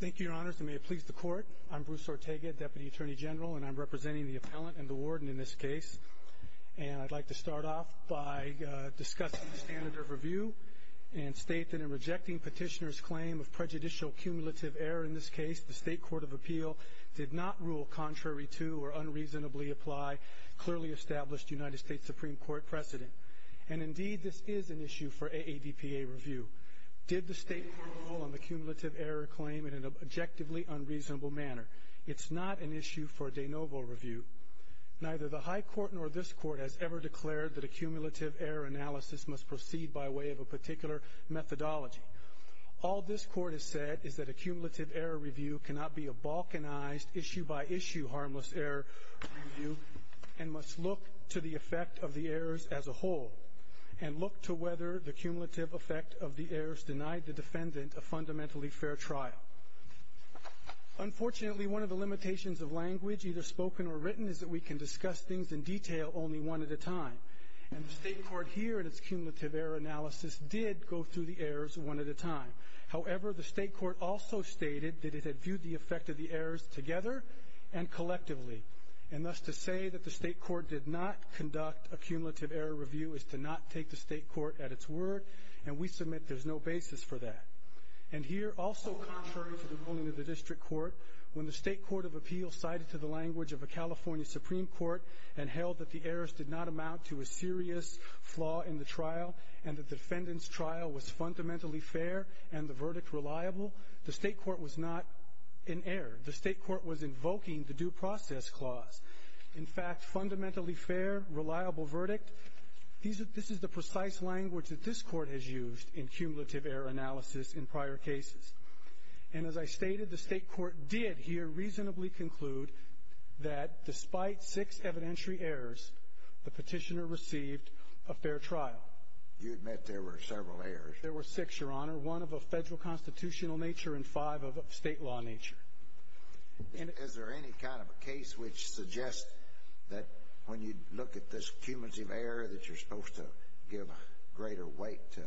Thank you, Your Honors, and may it please the Court, I'm Bruce Ortega, Deputy Attorney General, and I'm representing the Appellant and the Warden in this case. And I'd like to start off by discussing the standard of review and state that in rejecting Petitioner's claim of prejudicial cumulative error in this case, the State Court of Appeal did not rule contrary to or unreasonably apply clearly established United States Supreme Court precedent. And indeed, this is an issue for AADPA review. Did the State Court rule on the cumulative error claim in an objectively unreasonable manner? It's not an issue for de novo review. Neither the High Court nor this Court has ever declared that a cumulative error analysis must proceed by way of a particular methodology. All this Court has said is that a cumulative error review cannot be a balkanized issue-by-issue harmless error review and must look to the effect of the errors as a whole and look to whether the cumulative effect of the errors denied the defendant a fundamentally fair trial. Unfortunately, one of the limitations of language, either spoken or written, is that we can discuss things in detail only one at a time. And the State Court here in its cumulative error analysis did go through the errors one at a time. However, the State Court also stated that it had viewed the effect of the errors together and collectively and thus to say that the State Court did not conduct a cumulative error review is to not take the State Court at its word and we submit there's no basis for that. And here, also contrary to the ruling of the District Court, when the State Court of Appeals cited to the language of a California Supreme Court and held that the errors did not amount to a serious flaw in the trial and the defendant's trial was fundamentally fair and the verdict reliable, the State Court was not in error. The State Court was invoking the due process clause. In fact, fundamentally fair, reliable verdict, this is the precise language that this Court has used in cumulative error analysis in prior cases. And as I stated, the State Court did here reasonably conclude that despite six evidentiary errors, the petitioner received a fair trial. You admit there were several errors. There were six, Your Honor, one of a federal constitutional nature and five of a state law nature. Is there any kind of a case which suggests that when you look at this cumulative error that you're supposed to give greater weight to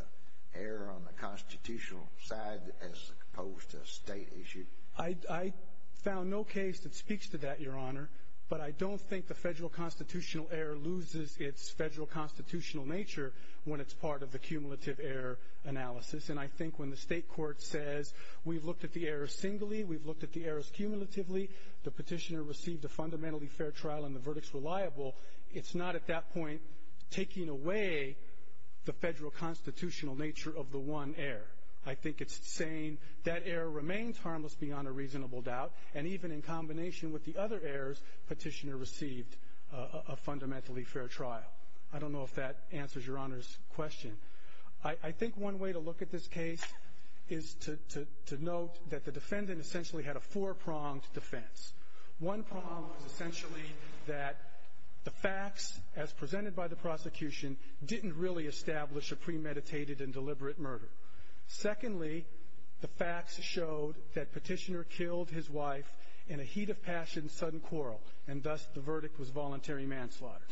error on the constitutional side as opposed to a state issue? I found no case that speaks to that, Your Honor, but I don't think the federal constitutional error loses its federal constitutional nature when it's part of the cumulative error analysis. And I think when the State Court says we've looked at the errors singly, we've looked at the errors cumulatively, the petitioner received a fundamentally fair trial and the verdict's reliable, it's not at that point taking away the federal constitutional nature of the one error. I think it's saying that error remains harmless beyond a reasonable doubt, and even in combination with the other errors, petitioner received a fundamentally fair trial. I don't know if that answers Your Honor's question. I think one way to look at this case is to note that the defendant essentially had a four-pronged defense. One prong was essentially that the facts, as presented by the prosecution, didn't really establish a premeditated and deliberate murder. Secondly, the facts showed that petitioner killed his wife in a heat of passion sudden quarrel, and thus the verdict was voluntary manslaughter.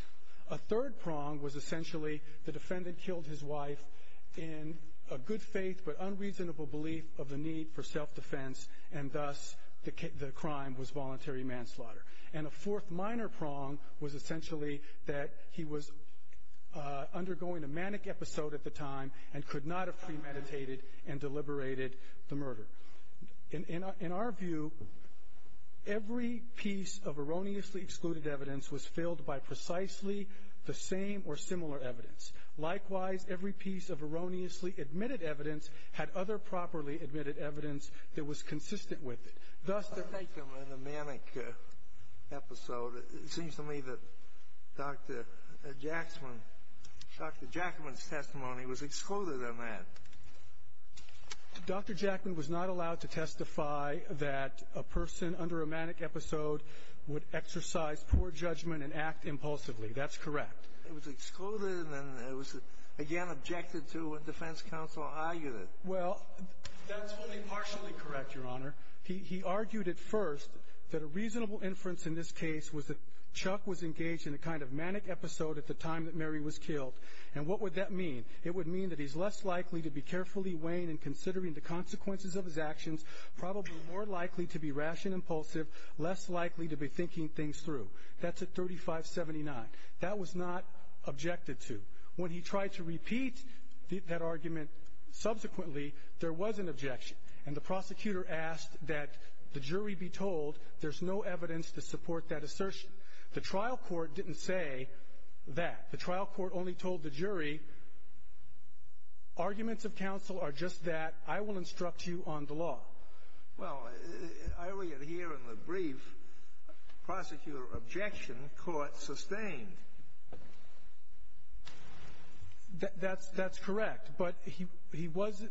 A third prong was essentially the defendant killed his wife in a good faith but unreasonable belief of the need for self-defense, and thus the crime was voluntary manslaughter. And a fourth minor prong was essentially that he was undergoing a manic episode at the time and could not have premeditated and deliberated the murder. In our view, every piece of erroneously excluded evidence was filled by precisely the same or similar evidence. Likewise, every piece of erroneously admitted evidence had other properly admitted evidence that was consistent with it. Thus, to make them in a manic episode, it seems to me that Dr. Jackman's testimony was excluded in that. Dr. Jackman was not allowed to testify that a person under a manic episode would exercise poor judgment and act impulsively. That's correct. It was excluded, and then it was again objected to when defense counsel argued it. Well, that's only partially correct, Your Honor. He argued at first that a reasonable inference in this case was that Chuck was engaged in a kind of manic episode at the time that Mary was killed. And what would that mean? It would mean that he's less likely to be carefully weighing and considering the consequences of his actions, probably more likely to be ration impulsive, less likely to be thinking things through. That's at 3579. That was not objected to. When he tried to repeat that argument subsequently, there was an objection. And the prosecutor asked that the jury be told there's no evidence to support that assertion. The trial court didn't say that. The trial court only told the jury arguments of counsel are just that. I will instruct you on the law. Well, I only adhere on the brief prosecutor objection the court sustained. That's correct. But he was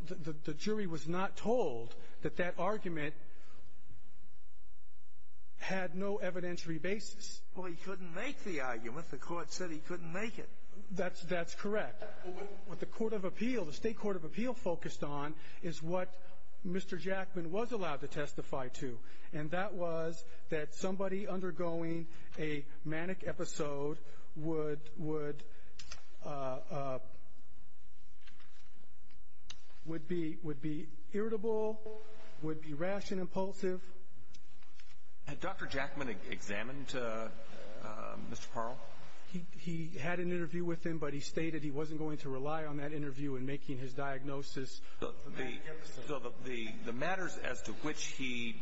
the jury was not told that that argument had no evidentiary basis. Well, he couldn't make the argument. The court said he couldn't make it. That's correct. What the court of appeal, the state court of appeal focused on is what Mr. Jackman was allowed to testify to. And that was that somebody undergoing a manic episode would be irritable, would be ration impulsive. Had Dr. Jackman examined Mr. Parle? He had an interview with him, but he stated he wasn't going to rely on that interview in making his diagnosis. So the matters as to which he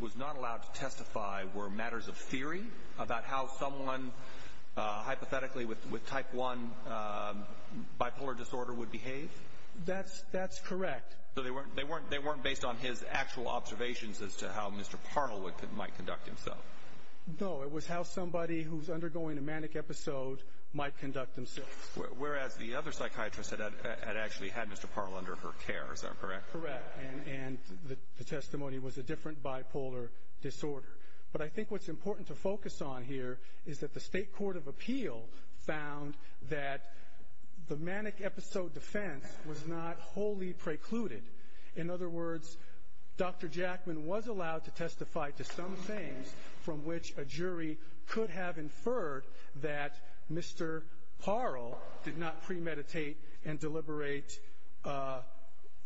was not allowed to testify were matters of theory about how someone hypothetically with type one bipolar disorder would behave? That's correct. So they weren't based on his actual observations as to how Mr. Parle might conduct himself? No, it was how somebody who's undergoing a manic episode might conduct themselves. Whereas the other psychiatrist had actually had Mr. Parle under her care. Is that correct? Correct. And the testimony was a different bipolar disorder. But I think what's important to focus on here is that the state court of appeal found that the manic episode defense was not wholly precluded. In other words, Dr. Jackman was allowed to testify to some things from which a jury could have inferred that Mr. Parle did not premeditate and deliberate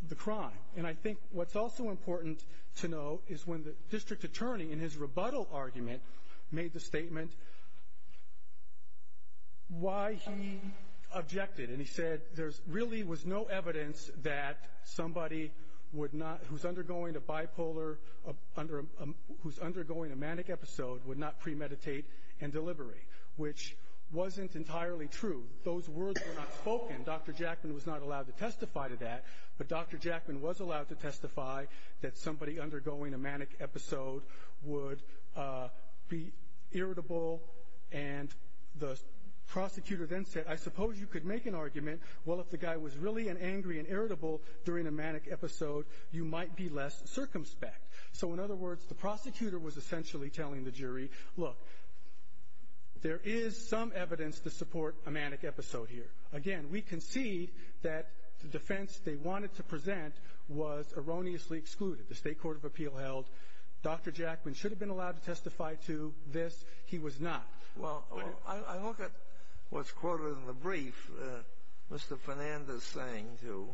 the crime. And I think what's also important to know is when the district attorney in his rebuttal argument made the statement why he objected. And he said there really was no evidence that somebody who's undergoing a manic episode would not premeditate and deliberate, which wasn't entirely true. Those words were not spoken. Dr. Jackman was not allowed to testify to that. But Dr. Jackman was allowed to testify that somebody undergoing a manic episode would be irritable. And the prosecutor then said, I suppose you could make an argument. Well, if the guy was really an angry and irritable during a manic episode, you might be less circumspect. So in other words, the prosecutor was essentially telling the jury, look, there is some evidence to support a manic episode here. Again, we concede that the defense they wanted to present was erroneously excluded. The State Court of Appeal held Dr. Jackman should have been allowed to testify to this. He was not. Well, I look at what's quoted in the brief Mr. Fernandez is saying, too.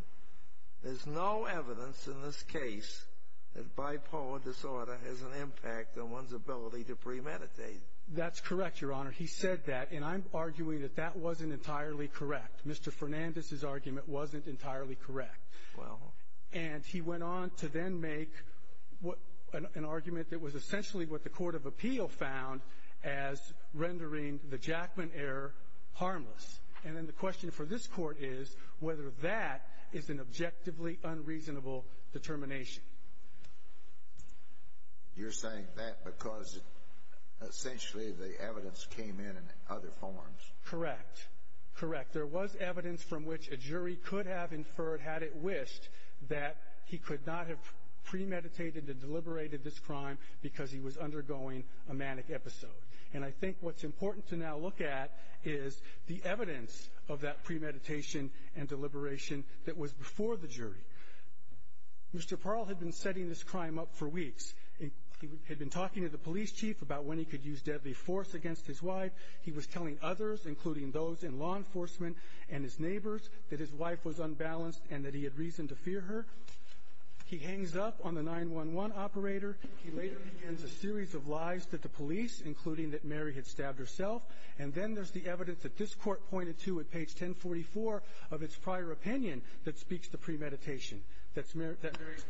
There's no evidence in this case that bipolar disorder has an impact on one's ability to premeditate. That's correct, Your Honor. He said that, and I'm arguing that that wasn't entirely correct. Mr. Fernandez's argument wasn't entirely correct. Well. And he went on to then make an argument that was essentially what the Court of Appeal found as rendering the Jackman error harmless. And then the question for this Court is whether that is an objectively unreasonable determination. You're saying that because essentially the evidence came in in other forms. Correct. Correct. There was evidence from which a jury could have inferred, had it wished, that he could not have premeditated and deliberated this crime because he was undergoing a manic episode. And I think what's important to now look at is the evidence of that premeditation and deliberation that was before the jury. Mr. Parle had been setting this crime up for weeks. He had been talking to the police chief about when he could use deadly force against his wife. He was telling others, including those in law enforcement and his neighbors, that his wife was unbalanced and that he had reason to fear her. He hangs up on the 911 operator. He later begins a series of lies to the police, including that Mary had stabbed herself. And then there's the evidence that this Court pointed to at page 1044 of its prior opinion that speaks to premeditation, that Mary's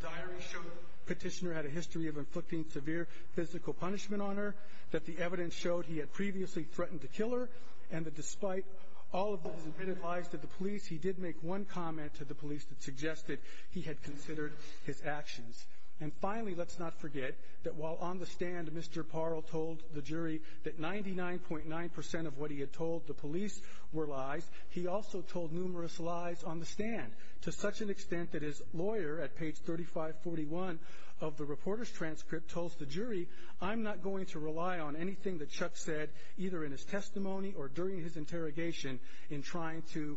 diary showed the petitioner had a history of inflicting severe physical punishment on her, that the evidence showed he had previously threatened to kill her, and that despite all of those admitted lies to the police, he did make one comment to the police that suggested he had considered his actions. And finally, let's not forget that while on the stand Mr. Parle told the jury that 99.9 percent of what he had told the police were lies, he also told numerous lies on the stand to such an extent that his lawyer at page 3541 of the reporter's transcript told the jury, I'm not going to rely on anything that Chuck said, either in his testimony or during his interrogation, in trying to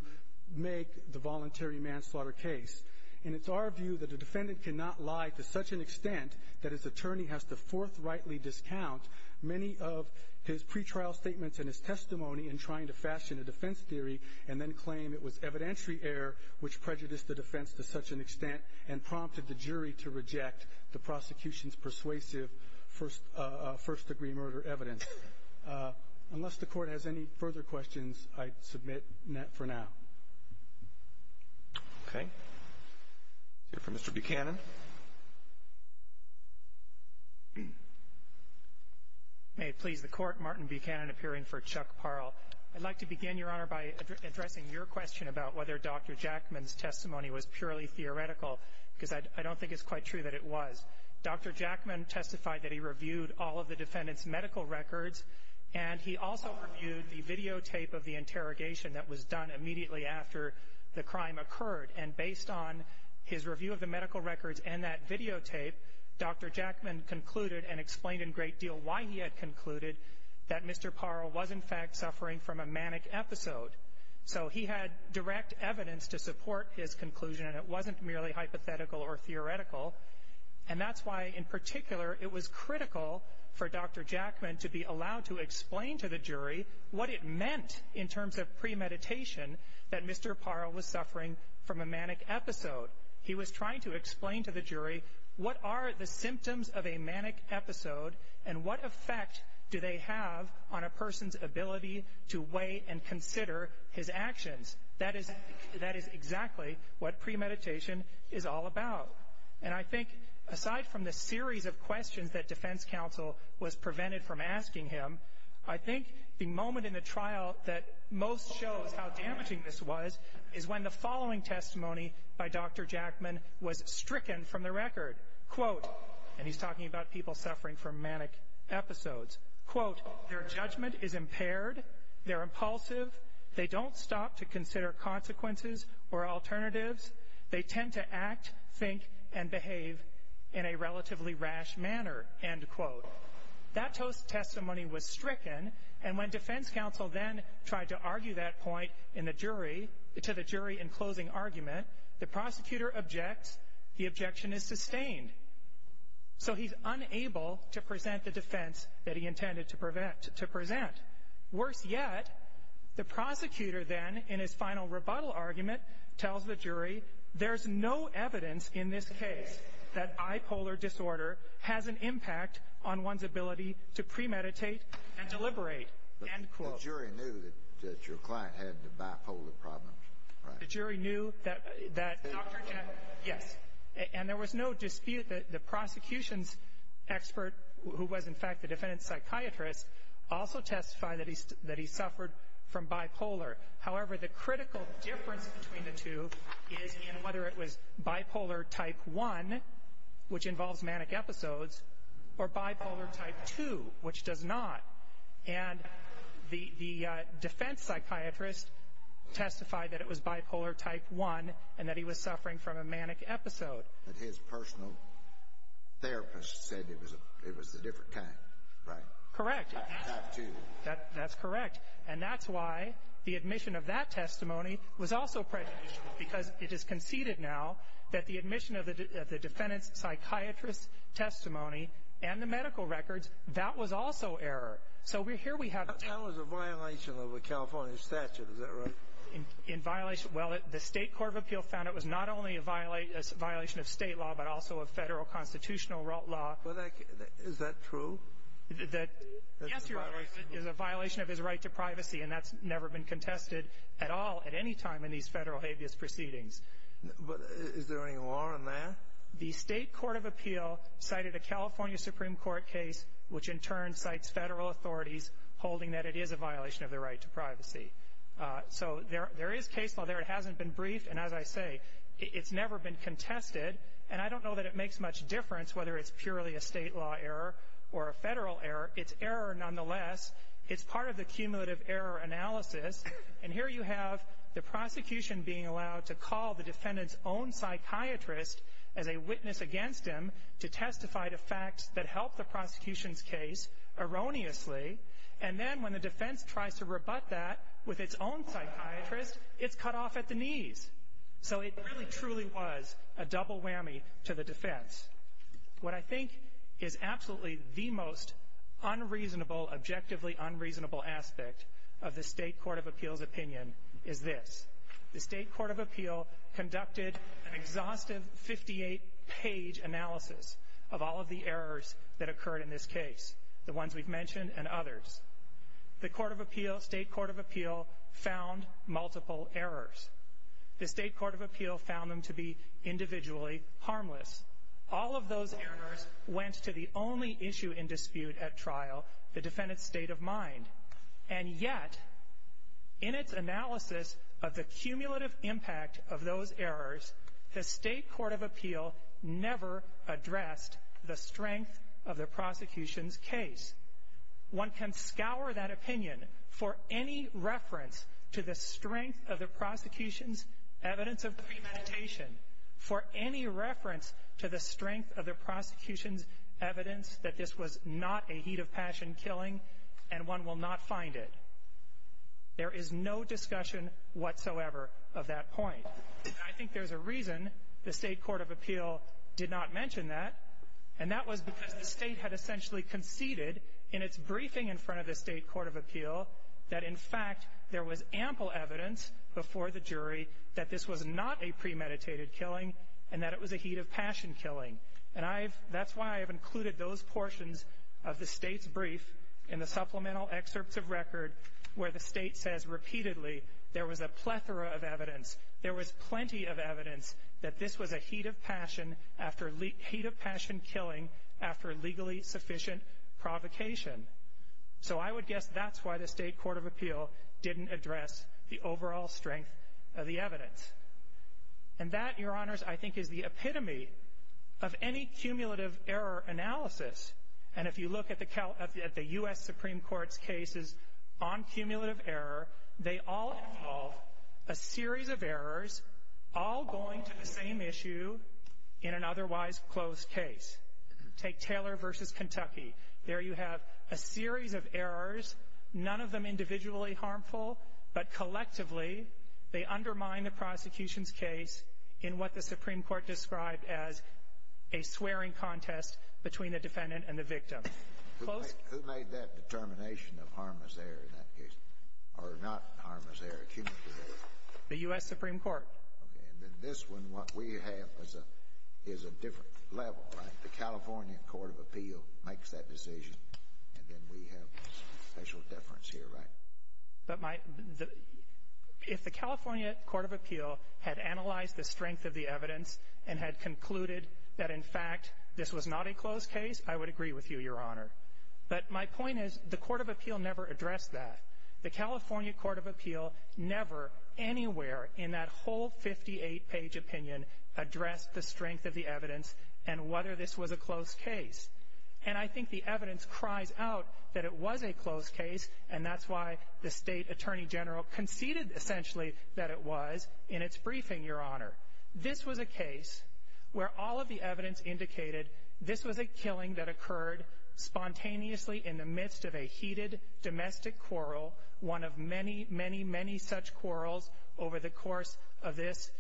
make the voluntary manslaughter case. And it's our view that a defendant cannot lie to such an extent that his attorney has to forthrightly discount many of his pretrial statements and his testimony in trying to fashion a defense theory and then claim it was evidentiary error which prejudiced the defense to such an extent and prompted the jury to reject the prosecution's persuasive first-degree murder evidence. Unless the Court has any further questions, I submit for now. Okay. Let's hear from Mr. Buchanan. May it please the Court, Martin Buchanan appearing for Chuck Parle. I'd like to begin, Your Honor, by addressing your question about whether Dr. Jackman's testimony was purely theoretical because I don't think it's quite true that it was. Dr. Jackman testified that he reviewed all of the defendant's medical records and he also reviewed the videotape of the interrogation that was done immediately after the crime occurred. And based on his review of the medical records and that videotape, Dr. Jackman concluded and explained in great deal why he had concluded that Mr. Parle was, in fact, suffering from a manic episode. So he had direct evidence to support his conclusion, and it wasn't merely hypothetical or theoretical. And that's why, in particular, it was critical for Dr. Jackman to be allowed to explain to the jury what it meant in terms of premeditation that Mr. Parle was suffering from a manic episode. He was trying to explain to the jury what are the symptoms of a manic episode and what effect do they have on a person's ability to weigh and consider his actions. That is exactly what premeditation is all about. And I think, aside from the series of questions that defense counsel was prevented from asking him, I think the moment in the trial that most shows how damaging this was is when the following testimony by Dr. Jackman was stricken from the record. And he's talking about people suffering from manic episodes. Quote, their judgment is impaired. They're impulsive. They don't stop to consider consequences or alternatives. They tend to act, think, and behave in a relatively rash manner, end quote. That testimony was stricken, and when defense counsel then tried to argue that point to the jury in closing argument, the prosecutor objects. The objection is sustained. So he's unable to present the defense that he intended to present. Worse yet, the prosecutor then, in his final rebuttal argument, tells the jury, there's no evidence in this case that bipolar disorder has an impact on one's ability to premeditate and deliberate, end quote. The jury knew that your client had the bipolar problems, right? The jury knew that Dr. Jackman, yes. And there was no dispute that the prosecution's expert, who was in fact the defendant's psychiatrist, also testified that he suffered from bipolar. However, the critical difference between the two is in whether it was bipolar type 1, which involves manic episodes, or bipolar type 2, which does not. And the defense psychiatrist testified that it was bipolar type 1 and that he was suffering from a manic episode. But his personal therapist said it was a different kind, right? Correct. Type 2. That's correct. And that's why the admission of that testimony was also prejudicial, because it is conceded now that the admission of the defendant's psychiatrist's testimony and the medical records, that was also error. So here we have the two. That was a violation of a California statute, is that right? Well, the State Court of Appeal found it was not only a violation of state law, but also of federal constitutional law. Is that true? Yes, Your Honor, it is a violation of his right to privacy, and that's never been contested at all at any time in these federal habeas proceedings. But is there any law in there? No. The State Court of Appeal cited a California Supreme Court case, which in turn cites federal authorities holding that it is a violation of their right to privacy. So there is case law there. It hasn't been briefed. And as I say, it's never been contested. And I don't know that it makes much difference whether it's purely a state law error or a federal error. It's error nonetheless. It's part of the cumulative error analysis. And here you have the prosecution being allowed to call the defendant's own psychiatrist as a witness against him to testify to facts that help the prosecution's case erroneously. And then when the defense tries to rebut that with its own psychiatrist, it's cut off at the knees. So it really truly was a double whammy to the defense. What I think is absolutely the most unreasonable, objectively unreasonable aspect of the State Court of Appeal's opinion is this. The State Court of Appeal conducted an exhaustive 58-page analysis of all of the errors that occurred in this case, the ones we've mentioned and others. The Court of Appeal, State Court of Appeal, found multiple errors. The State Court of Appeal found them to be individually harmless. All of those errors went to the only issue in dispute at trial, the defendant's state of mind. And yet, in its analysis of the cumulative impact of those errors, the State Court of Appeal never addressed the strength of the prosecution's case. One can scour that opinion for any reference to the strength of the prosecution's evidence of premeditation, for any reference to the strength of the prosecution's evidence that this was not a heat of passion killing, and one will not find it. There is no discussion whatsoever of that point. I think there's a reason the State Court of Appeal did not mention that, and that was because the State had essentially conceded in its briefing in front of the State Court of Appeal that, in fact, there was ample evidence before the jury that this was not a premeditated killing and that it was a heat of passion killing. And that's why I've included those portions of the State's brief in the supplemental excerpts of record where the State says repeatedly there was a plethora of evidence, there was plenty of evidence that this was a heat of passion killing after legally sufficient provocation. So I would guess that's why the State Court of Appeal didn't address the overall strength of the evidence. And that, Your Honors, I think is the epitome of any cumulative error analysis. And if you look at the U.S. Supreme Court's cases on cumulative error, they all involve a series of errors all going to the same issue in an otherwise closed case. Take Taylor v. Kentucky. There you have a series of errors, none of them individually harmful, but collectively they undermine the prosecution's case in what the Supreme Court described as a swearing contest between the defendant and the victim. Who made that determination of harmless error in that case? Or not harmless error, cumulative error? The U.S. Supreme Court. Okay. And then this one, what we have is a different level, right? The California Court of Appeal makes that decision, and then we have special deference here, right? If the California Court of Appeal had analyzed the strength of the evidence and had concluded that, in fact, this was not a closed case, I would agree with you, Your Honor. But my point is the Court of Appeal never addressed that. The California Court of Appeal never anywhere in that whole 58-page opinion addressed the strength of the evidence and whether this was a closed case. And I think the evidence cries out that it was a closed case, and that's why the State Attorney General conceded, essentially, that it was in its briefing, Your Honor. This was a case where all of the evidence indicated this was a killing that occurred spontaneously in the midst of a heated domestic quarrel, one of many, many, many such quarrels over the course of this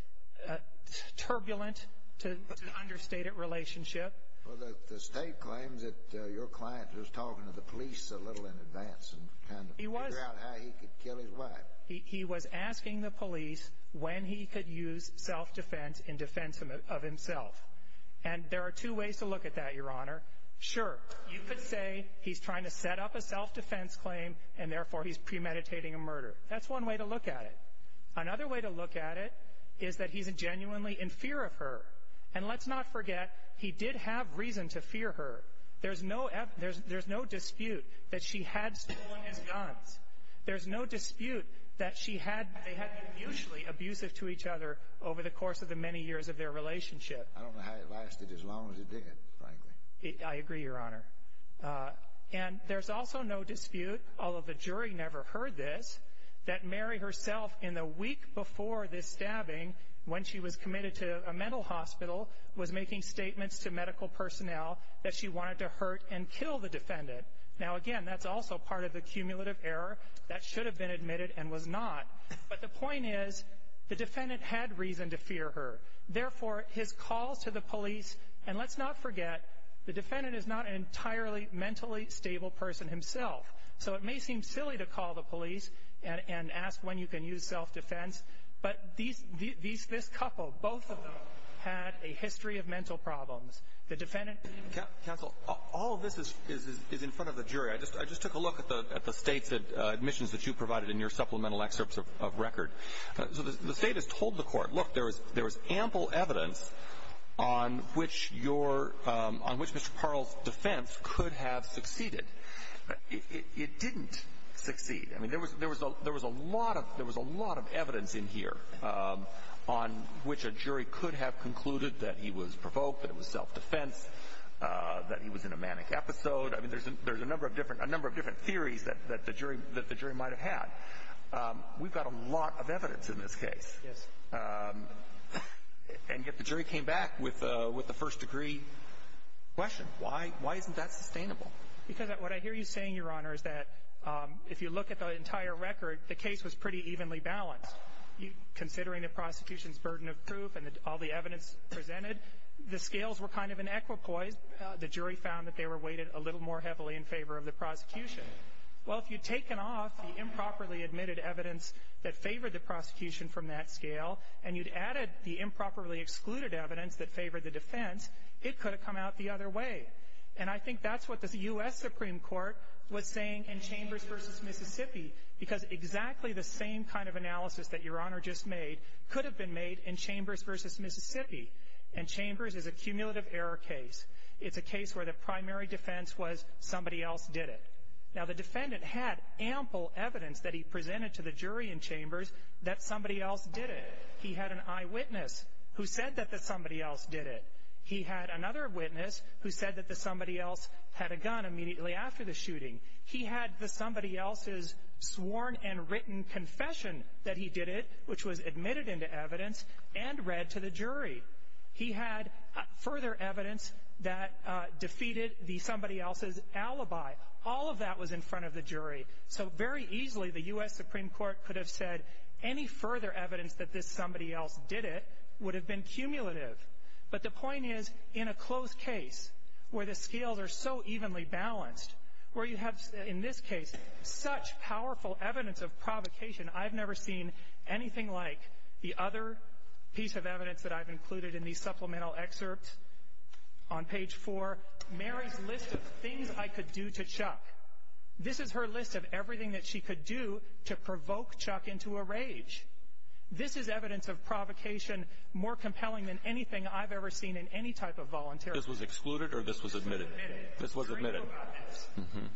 turbulent to understated relationship. Well, the State claims that your client was talking to the police a little in advance and kind of figured out how he could kill his wife. But he was asking the police when he could use self-defense in defense of himself. And there are two ways to look at that, Your Honor. Sure, you could say he's trying to set up a self-defense claim and, therefore, he's premeditating a murder. That's one way to look at it. Another way to look at it is that he's genuinely in fear of her. And let's not forget he did have reason to fear her. There's no dispute that she had stolen his guns. There's no dispute that they had been mutually abusive to each other over the course of the many years of their relationship. I don't know how it lasted as long as it did, frankly. I agree, Your Honor. And there's also no dispute, although the jury never heard this, that Mary herself in the week before this stabbing when she was committed to a mental hospital was making statements to medical personnel that she wanted to hurt and kill the defendant. Now, again, that's also part of the cumulative error. That should have been admitted and was not. But the point is the defendant had reason to fear her. Therefore, his calls to the police, and let's not forget, the defendant is not an entirely mentally stable person himself. So it may seem silly to call the police and ask when you can use self-defense, but this couple, both of them, had a history of mental problems. Counsel, all of this is in front of the jury. I just took a look at the States' admissions that you provided in your supplemental excerpts of record. So the State has told the Court, look, there was ample evidence on which your — on which Mr. Parle's defense could have succeeded. It didn't succeed. I mean, there was a lot of evidence in here on which a jury could have concluded that he was provoked, that it was self-defense, that he was in a manic episode. I mean, there's a number of different theories that the jury might have had. We've got a lot of evidence in this case. Yes. And yet the jury came back with a first-degree question. Why isn't that sustainable? Because what I hear you saying, Your Honor, is that if you look at the entire record, the case was pretty evenly balanced. Considering the prosecution's burden of proof and all the evidence presented, the scales were kind of in equipoise. The jury found that they were weighted a little more heavily in favor of the prosecution. Well, if you'd taken off the improperly admitted evidence that favored the prosecution from that scale and you'd added the improperly excluded evidence that favored the defense, it could have come out the other way. And I think that's what the U.S. Supreme Court was saying in Chambers v. Mississippi, because exactly the same kind of analysis that Your Honor just made could have been made in Chambers v. Mississippi. And Chambers is a cumulative error case. It's a case where the primary defense was somebody else did it. Now, the defendant had ample evidence that he presented to the jury in Chambers that somebody else did it. He had an eyewitness who said that somebody else did it. He had another witness who said that somebody else had a gun immediately after the shooting. He had somebody else's sworn and written confession that he did it, which was admitted into evidence, and read to the jury. He had further evidence that defeated somebody else's alibi. All of that was in front of the jury. So very easily, the U.S. Supreme Court could have said any further evidence that this somebody else did it would have been cumulative. But the point is, in a close case where the scales are so evenly balanced, where you have in this case such powerful evidence of provocation, I've never seen anything like the other piece of evidence that I've included in these supplemental excerpts on page 4, Mary's list of things I could do to Chuck. This is her list of everything that she could do to provoke Chuck into a rage. This is evidence of provocation more compelling than anything I've ever seen in any type of voluntary. This was excluded or this was admitted? This was admitted. This was admitted.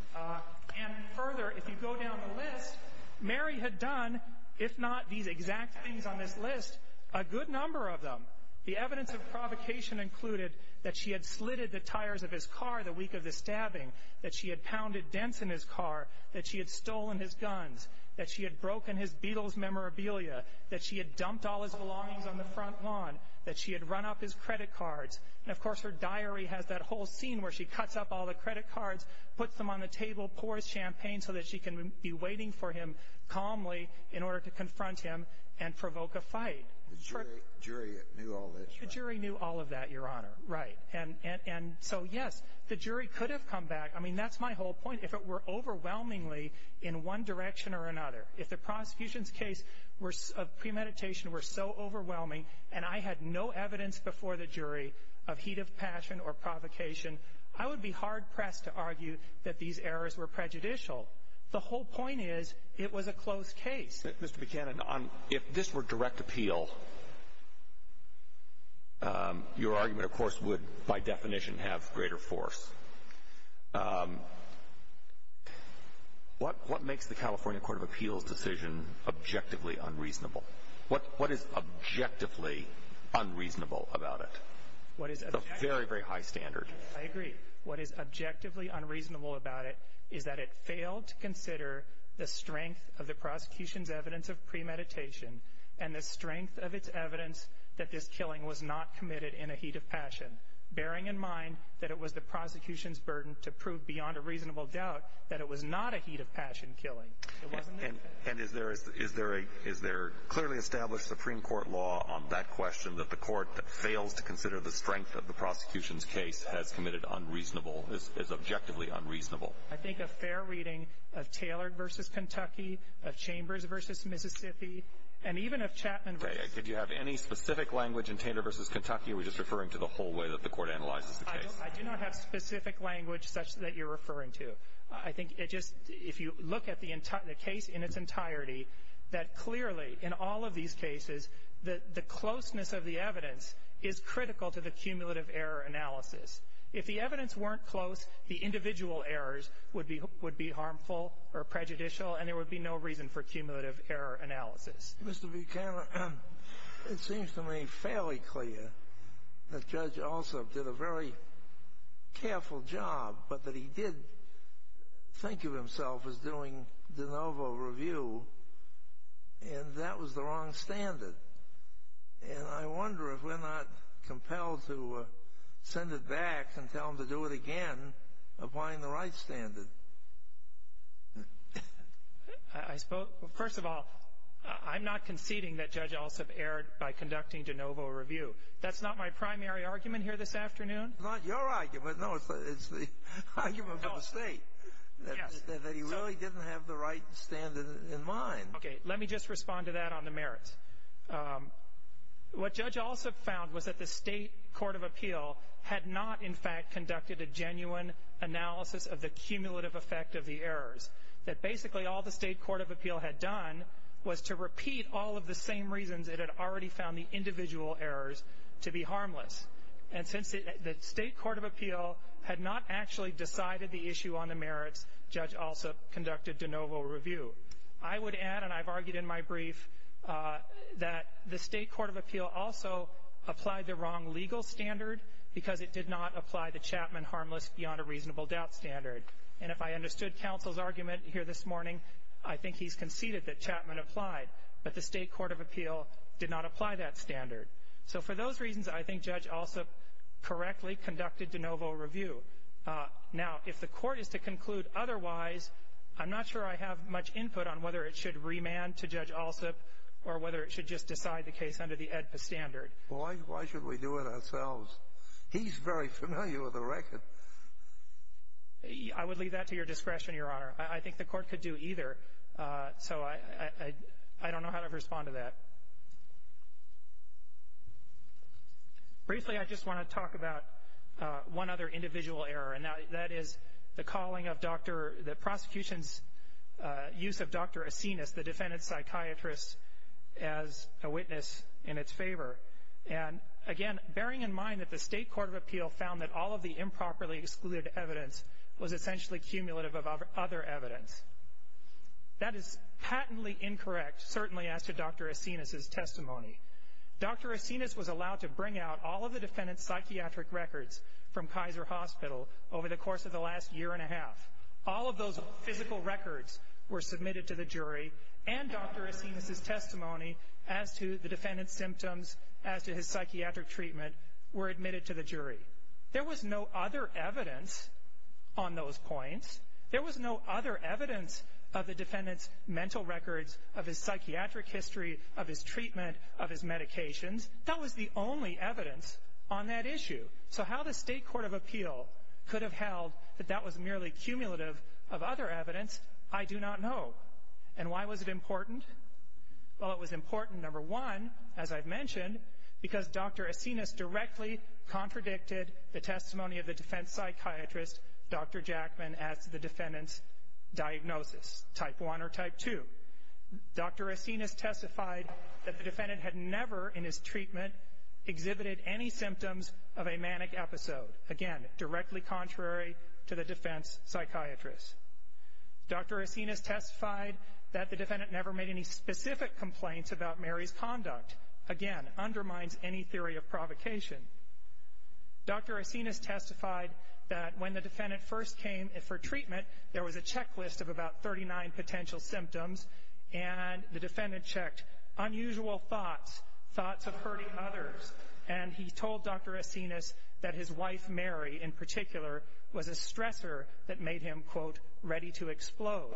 And further, if you go down the list, Mary had done, if not these exact things on this list, a good number of them. The evidence of provocation included that she had slitted the tires of his car the week of the stabbing, that she had pounded dents in his car, that she had stolen his guns, that she had broken his Beatles memorabilia, that she had dumped all his belongings on the front lawn, that she had run up his credit cards. And, of course, her diary has that whole scene where she cuts up all the credit cards, puts them on the table, pours champagne so that she can be waiting for him calmly in order to confront him and provoke a fight. The jury knew all this, right? The jury knew all of that, Your Honor, right. And so, yes, the jury could have come back. I mean, that's my whole point. If it were overwhelmingly in one direction or another, if the prosecution's case of premeditation were so overwhelming and I had no evidence before the jury of heat of passion or provocation, I would be hard-pressed to argue that these errors were prejudicial. The whole point is it was a closed case. Mr. Buchanan, if this were direct appeal, your argument, of course, would by definition have greater force. What makes the California Court of Appeals decision objectively unreasonable? What is objectively unreasonable about it? It's a very, very high standard. I agree. What is objectively unreasonable about it is that it failed to consider the strength of the prosecution's evidence of premeditation and the strength of its evidence that this killing was not committed in a heat of passion, bearing in mind that it was the prosecution's burden to prove beyond a reasonable doubt that it was not a heat of passion killing. And is there clearly established Supreme Court law on that question, that the court that fails to consider the strength of the prosecution's case has committed unreasonable, is objectively unreasonable? I think a fair reading of Taylor v. Kentucky, of Chambers v. Mississippi, and even of Chapman v. Did you have any specific language in Taylor v. Kentucky, or are we just referring to the whole way that the court analyzes the case? I do not have specific language such that you're referring to. I think it just, if you look at the case in its entirety, that clearly, in all of these cases, the closeness of the evidence is critical to the cumulative error analysis. If the evidence weren't close, the individual errors would be harmful or prejudicial, and there would be no reason for cumulative error analysis. Mr. Buchanan, it seems to me fairly clear that Judge Alsop did a very careful job, but that he did think of himself as doing de novo review, and that was the wrong standard. And I wonder if we're not compelled to send it back and tell him to do it again, applying the right standard. First of all, I'm not conceding that Judge Alsop erred by conducting de novo review. That's not my primary argument here this afternoon. It's not your argument. No, it's the argument of the State, that he really didn't have the right standard in mind. Okay. Let me just respond to that on the merits. What Judge Alsop found was that the State Court of Appeal had not, in fact, conducted a genuine analysis of the cumulative effect of the errors, that basically all the State Court of Appeal had done was to repeat all of the same reasons it had already found the individual errors to be harmless. And since the State Court of Appeal had not actually decided the issue on the merits, Judge Alsop conducted de novo review. I would add, and I've argued in my brief, that the State Court of Appeal also applied the wrong legal standard because it did not apply the Chapman harmless beyond a reasonable doubt standard. And if I understood counsel's argument here this morning, I think he's conceded that Chapman applied, but the State Court of Appeal did not apply that standard. So for those reasons, I think Judge Alsop correctly conducted de novo review. Now, if the Court is to conclude otherwise, I'm not sure I have much input on whether it should remand to Judge Alsop or whether it should just decide the case under the AEDPA standard. Why should we do it ourselves? He's very familiar with the record. I would leave that to your discretion, Your Honor. I think the Court could do either. So I don't know how to respond to that. Briefly, I just want to talk about one other individual error, and that is the prosecution's use of Dr. Asinas, the defendant's psychiatrist, as a witness in its favor. And, again, bearing in mind that the State Court of Appeal found that all of the improperly excluded evidence was essentially cumulative of other evidence. That is patently incorrect, certainly as to Dr. Asinas' case. Dr. Asinas was allowed to bring out all of the defendant's psychiatric records from Kaiser Hospital over the course of the last year and a half. All of those physical records were submitted to the jury, and Dr. Asinas' testimony as to the defendant's symptoms, as to his psychiatric treatment, were admitted to the jury. There was no other evidence on those points. There was no other evidence of the defendant's mental records, of his psychiatric history, of his treatment, of his medications. That was the only evidence on that issue. So how the State Court of Appeal could have held that that was merely cumulative of other evidence, I do not know. And why was it important? Well, it was important, number one, as I've mentioned, because Dr. Asinas directly contradicted the testimony of the defense psychiatrist, Dr. Jackman, as to the defendant's diagnosis, type 1 or type 2. Dr. Asinas testified that the defendant had never, in his treatment, exhibited any symptoms of a manic episode. Again, directly contrary to the defense psychiatrist. Dr. Asinas testified that the defendant never made any specific complaints about Mary's conduct. Again, undermines any theory of provocation. Dr. Asinas testified that when the defendant first came for treatment, there was a checklist of about 39 potential symptoms, and the defendant checked unusual thoughts, thoughts of hurting others. And he told Dr. Asinas that his wife, Mary, in particular, was a stressor that made him, quote, ready to explode.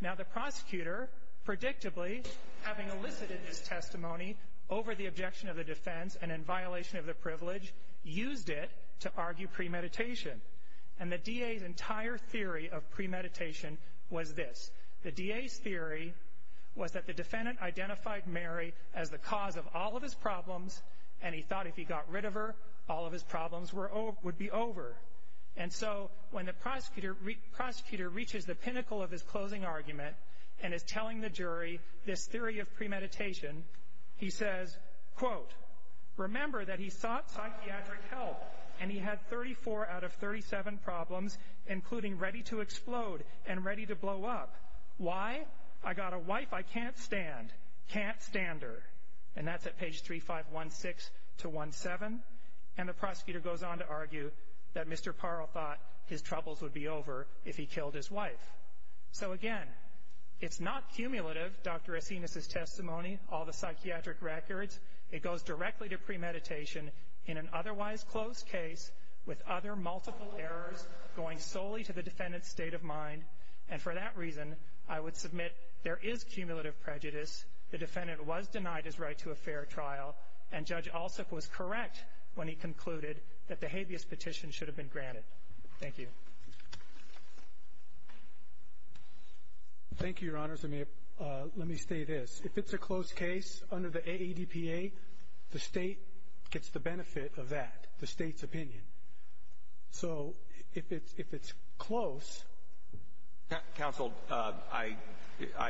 Now, the prosecutor, predictably, having elicited his testimony over the objection of the defense and in violation of the privilege, used it to argue premeditation. And the DA's entire theory of premeditation was this. The DA's theory was that the defendant identified Mary as the cause of all of his problems, and he thought if he got rid of her, all of his problems would be over. And so when the prosecutor reaches the pinnacle of his closing argument and is telling the jury this theory of premeditation, he says, quote, remember that he sought psychiatric help, and he had 34 out of 37 problems, including ready to explode and ready to blow up. Why? I got a wife I can't stand. Can't stand her. And that's at page 3516 to 17. And the prosecutor goes on to argue that Mr. Parle thought his troubles would be over if he killed his wife. So, again, it's not cumulative, Dr. Asinas' testimony, all the psychiatric records. It goes directly to premeditation in an otherwise closed case with other multiple errors going solely to the defendant's state of mind. And for that reason, I would submit there is cumulative prejudice. The defendant was denied his right to a fair trial. And Judge Alsup was correct when he concluded that the habeas petition should have been granted. Thank you. Thank you, Your Honors. Let me say this. If it's a closed case under the AADPA, the state gets the benefit of that, the state's opinion. So if it's close. Counsel, I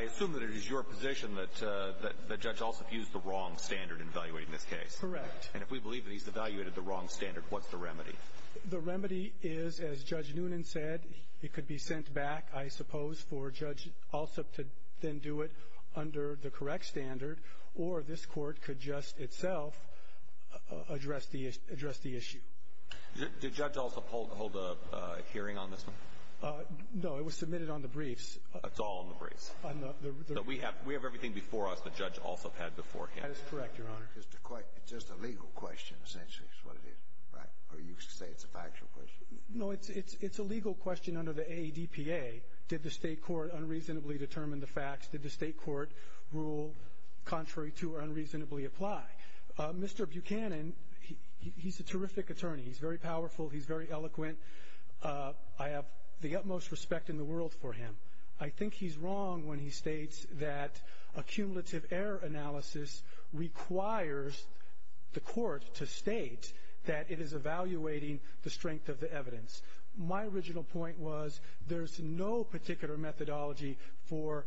assume that it is your position that Judge Alsup used the wrong standard in evaluating this case. Correct. And if we believe that he's evaluated the wrong standard, what's the remedy? The remedy is, as Judge Noonan said, it could be sent back, I suppose, for Judge Alsup to then do it under the correct standard. Or this court could just itself address the issue. Did Judge Alsup hold a hearing on this one? No, it was submitted on the briefs. It's all on the briefs. We have everything before us that Judge Alsup had beforehand. That is correct, Your Honor. It's just a legal question, essentially, is what it is. Or you say it's a factual question. No, it's a legal question under the AADPA. Did the state court unreasonably determine the facts? Did the state court rule contrary to or unreasonably apply? Mr. Buchanan, he's a terrific attorney. He's very powerful. He's very eloquent. I have the utmost respect in the world for him. I think he's wrong when he states that a cumulative error analysis requires the court to state that it is evaluating the strength of the evidence. My original point was there's no particular methodology for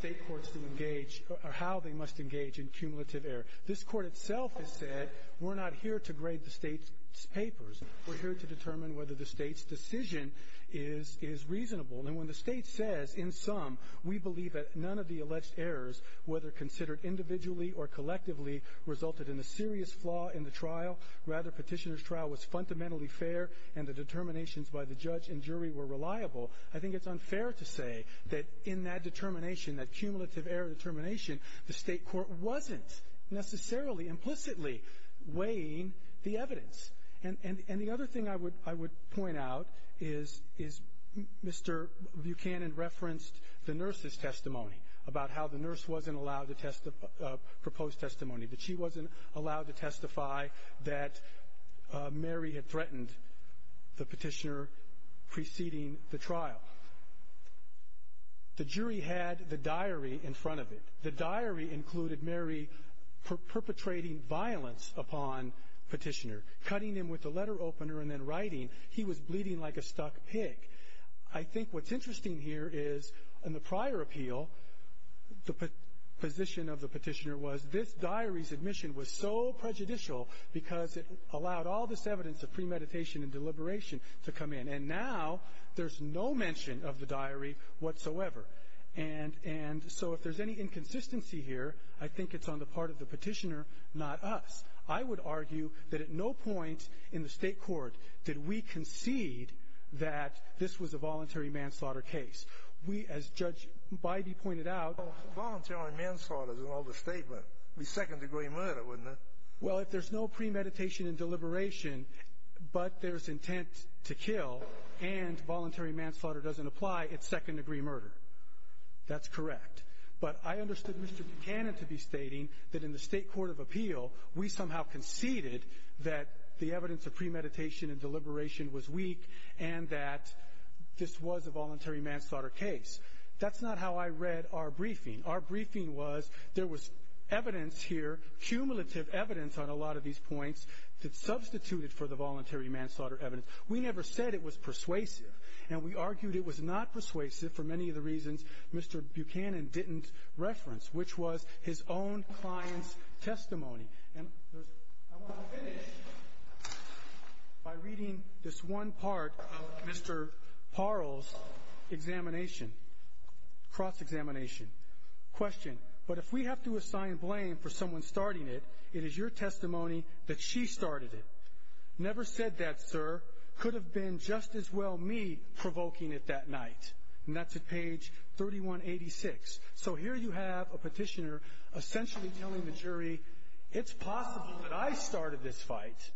state courts to engage or how they must engage in cumulative error. This court itself has said we're not here to grade the state's papers. We're here to determine whether the state's decision is reasonable. And when the state says in sum we believe that none of the alleged errors, whether considered individually or collectively, resulted in a serious flaw in the trial, rather petitioner's trial was fundamentally fair and the determinations by the judge and jury were reliable, I think it's unfair to say that in that determination, that cumulative error determination, the state court wasn't necessarily implicitly weighing the evidence. And the other thing I would point out is Mr. Buchanan referenced the nurse's testimony about how the nurse wasn't allowed to propose testimony, that she wasn't allowed to testify that Mary had threatened the petitioner preceding the trial. The jury had the diary in front of it. The diary included Mary perpetrating violence upon petitioner, cutting him with a letter opener and then writing, he was bleeding like a stuck pig. I think what's interesting here is in the prior appeal, the position of the petitioner was this diary's admission was so prejudicial because it allowed all this evidence of premeditation and deliberation to come in. And now there's no mention of the diary whatsoever. And so if there's any inconsistency here, I think it's on the part of the petitioner, not us. I would argue that at no point in the state court did we concede that this was a voluntary manslaughter case. We, as Judge Bybee pointed out. Voluntary manslaughter is an older statement. It would be second-degree murder, wouldn't it? Well, if there's no premeditation and deliberation but there's intent to kill and voluntary manslaughter doesn't apply, it's second-degree murder. That's correct. But I understood Mr. Buchanan to be stating that in the state court of appeal, we somehow conceded that the evidence of premeditation and deliberation was weak and that this was a voluntary manslaughter case. That's not how I read our briefing. Our briefing was there was evidence here, cumulative evidence on a lot of these points that substituted for the voluntary manslaughter evidence. We never said it was persuasive. And we argued it was not persuasive for many of the reasons Mr. Buchanan didn't reference, which was his own client's testimony. And I want to finish by reading this one part of Mr. Parle's examination, cross-examination. Question, but if we have to assign blame for someone starting it, it is your testimony that she started it. Never said that, sir. Could have been just as well me provoking it that night. And that's at page 3186. So here you have a petitioner essentially telling the jury, it's possible that I started this fight.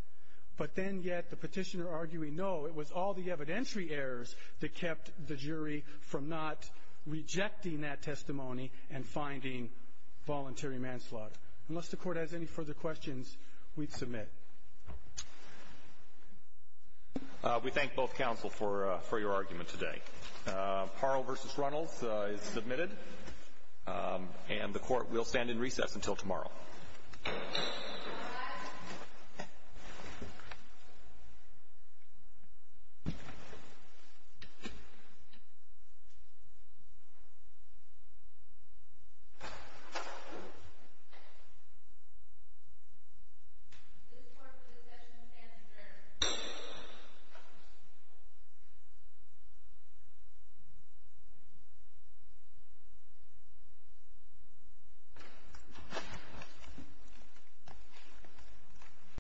But then yet the petitioner arguing no, it was all the evidentiary errors that kept the jury from not rejecting that testimony and finding voluntary manslaughter. Unless the court has any further questions, we'd submit. We thank both counsel for your argument today. Parle v. Runnels is submitted. And the court will stand in recess until tomorrow. Thank you.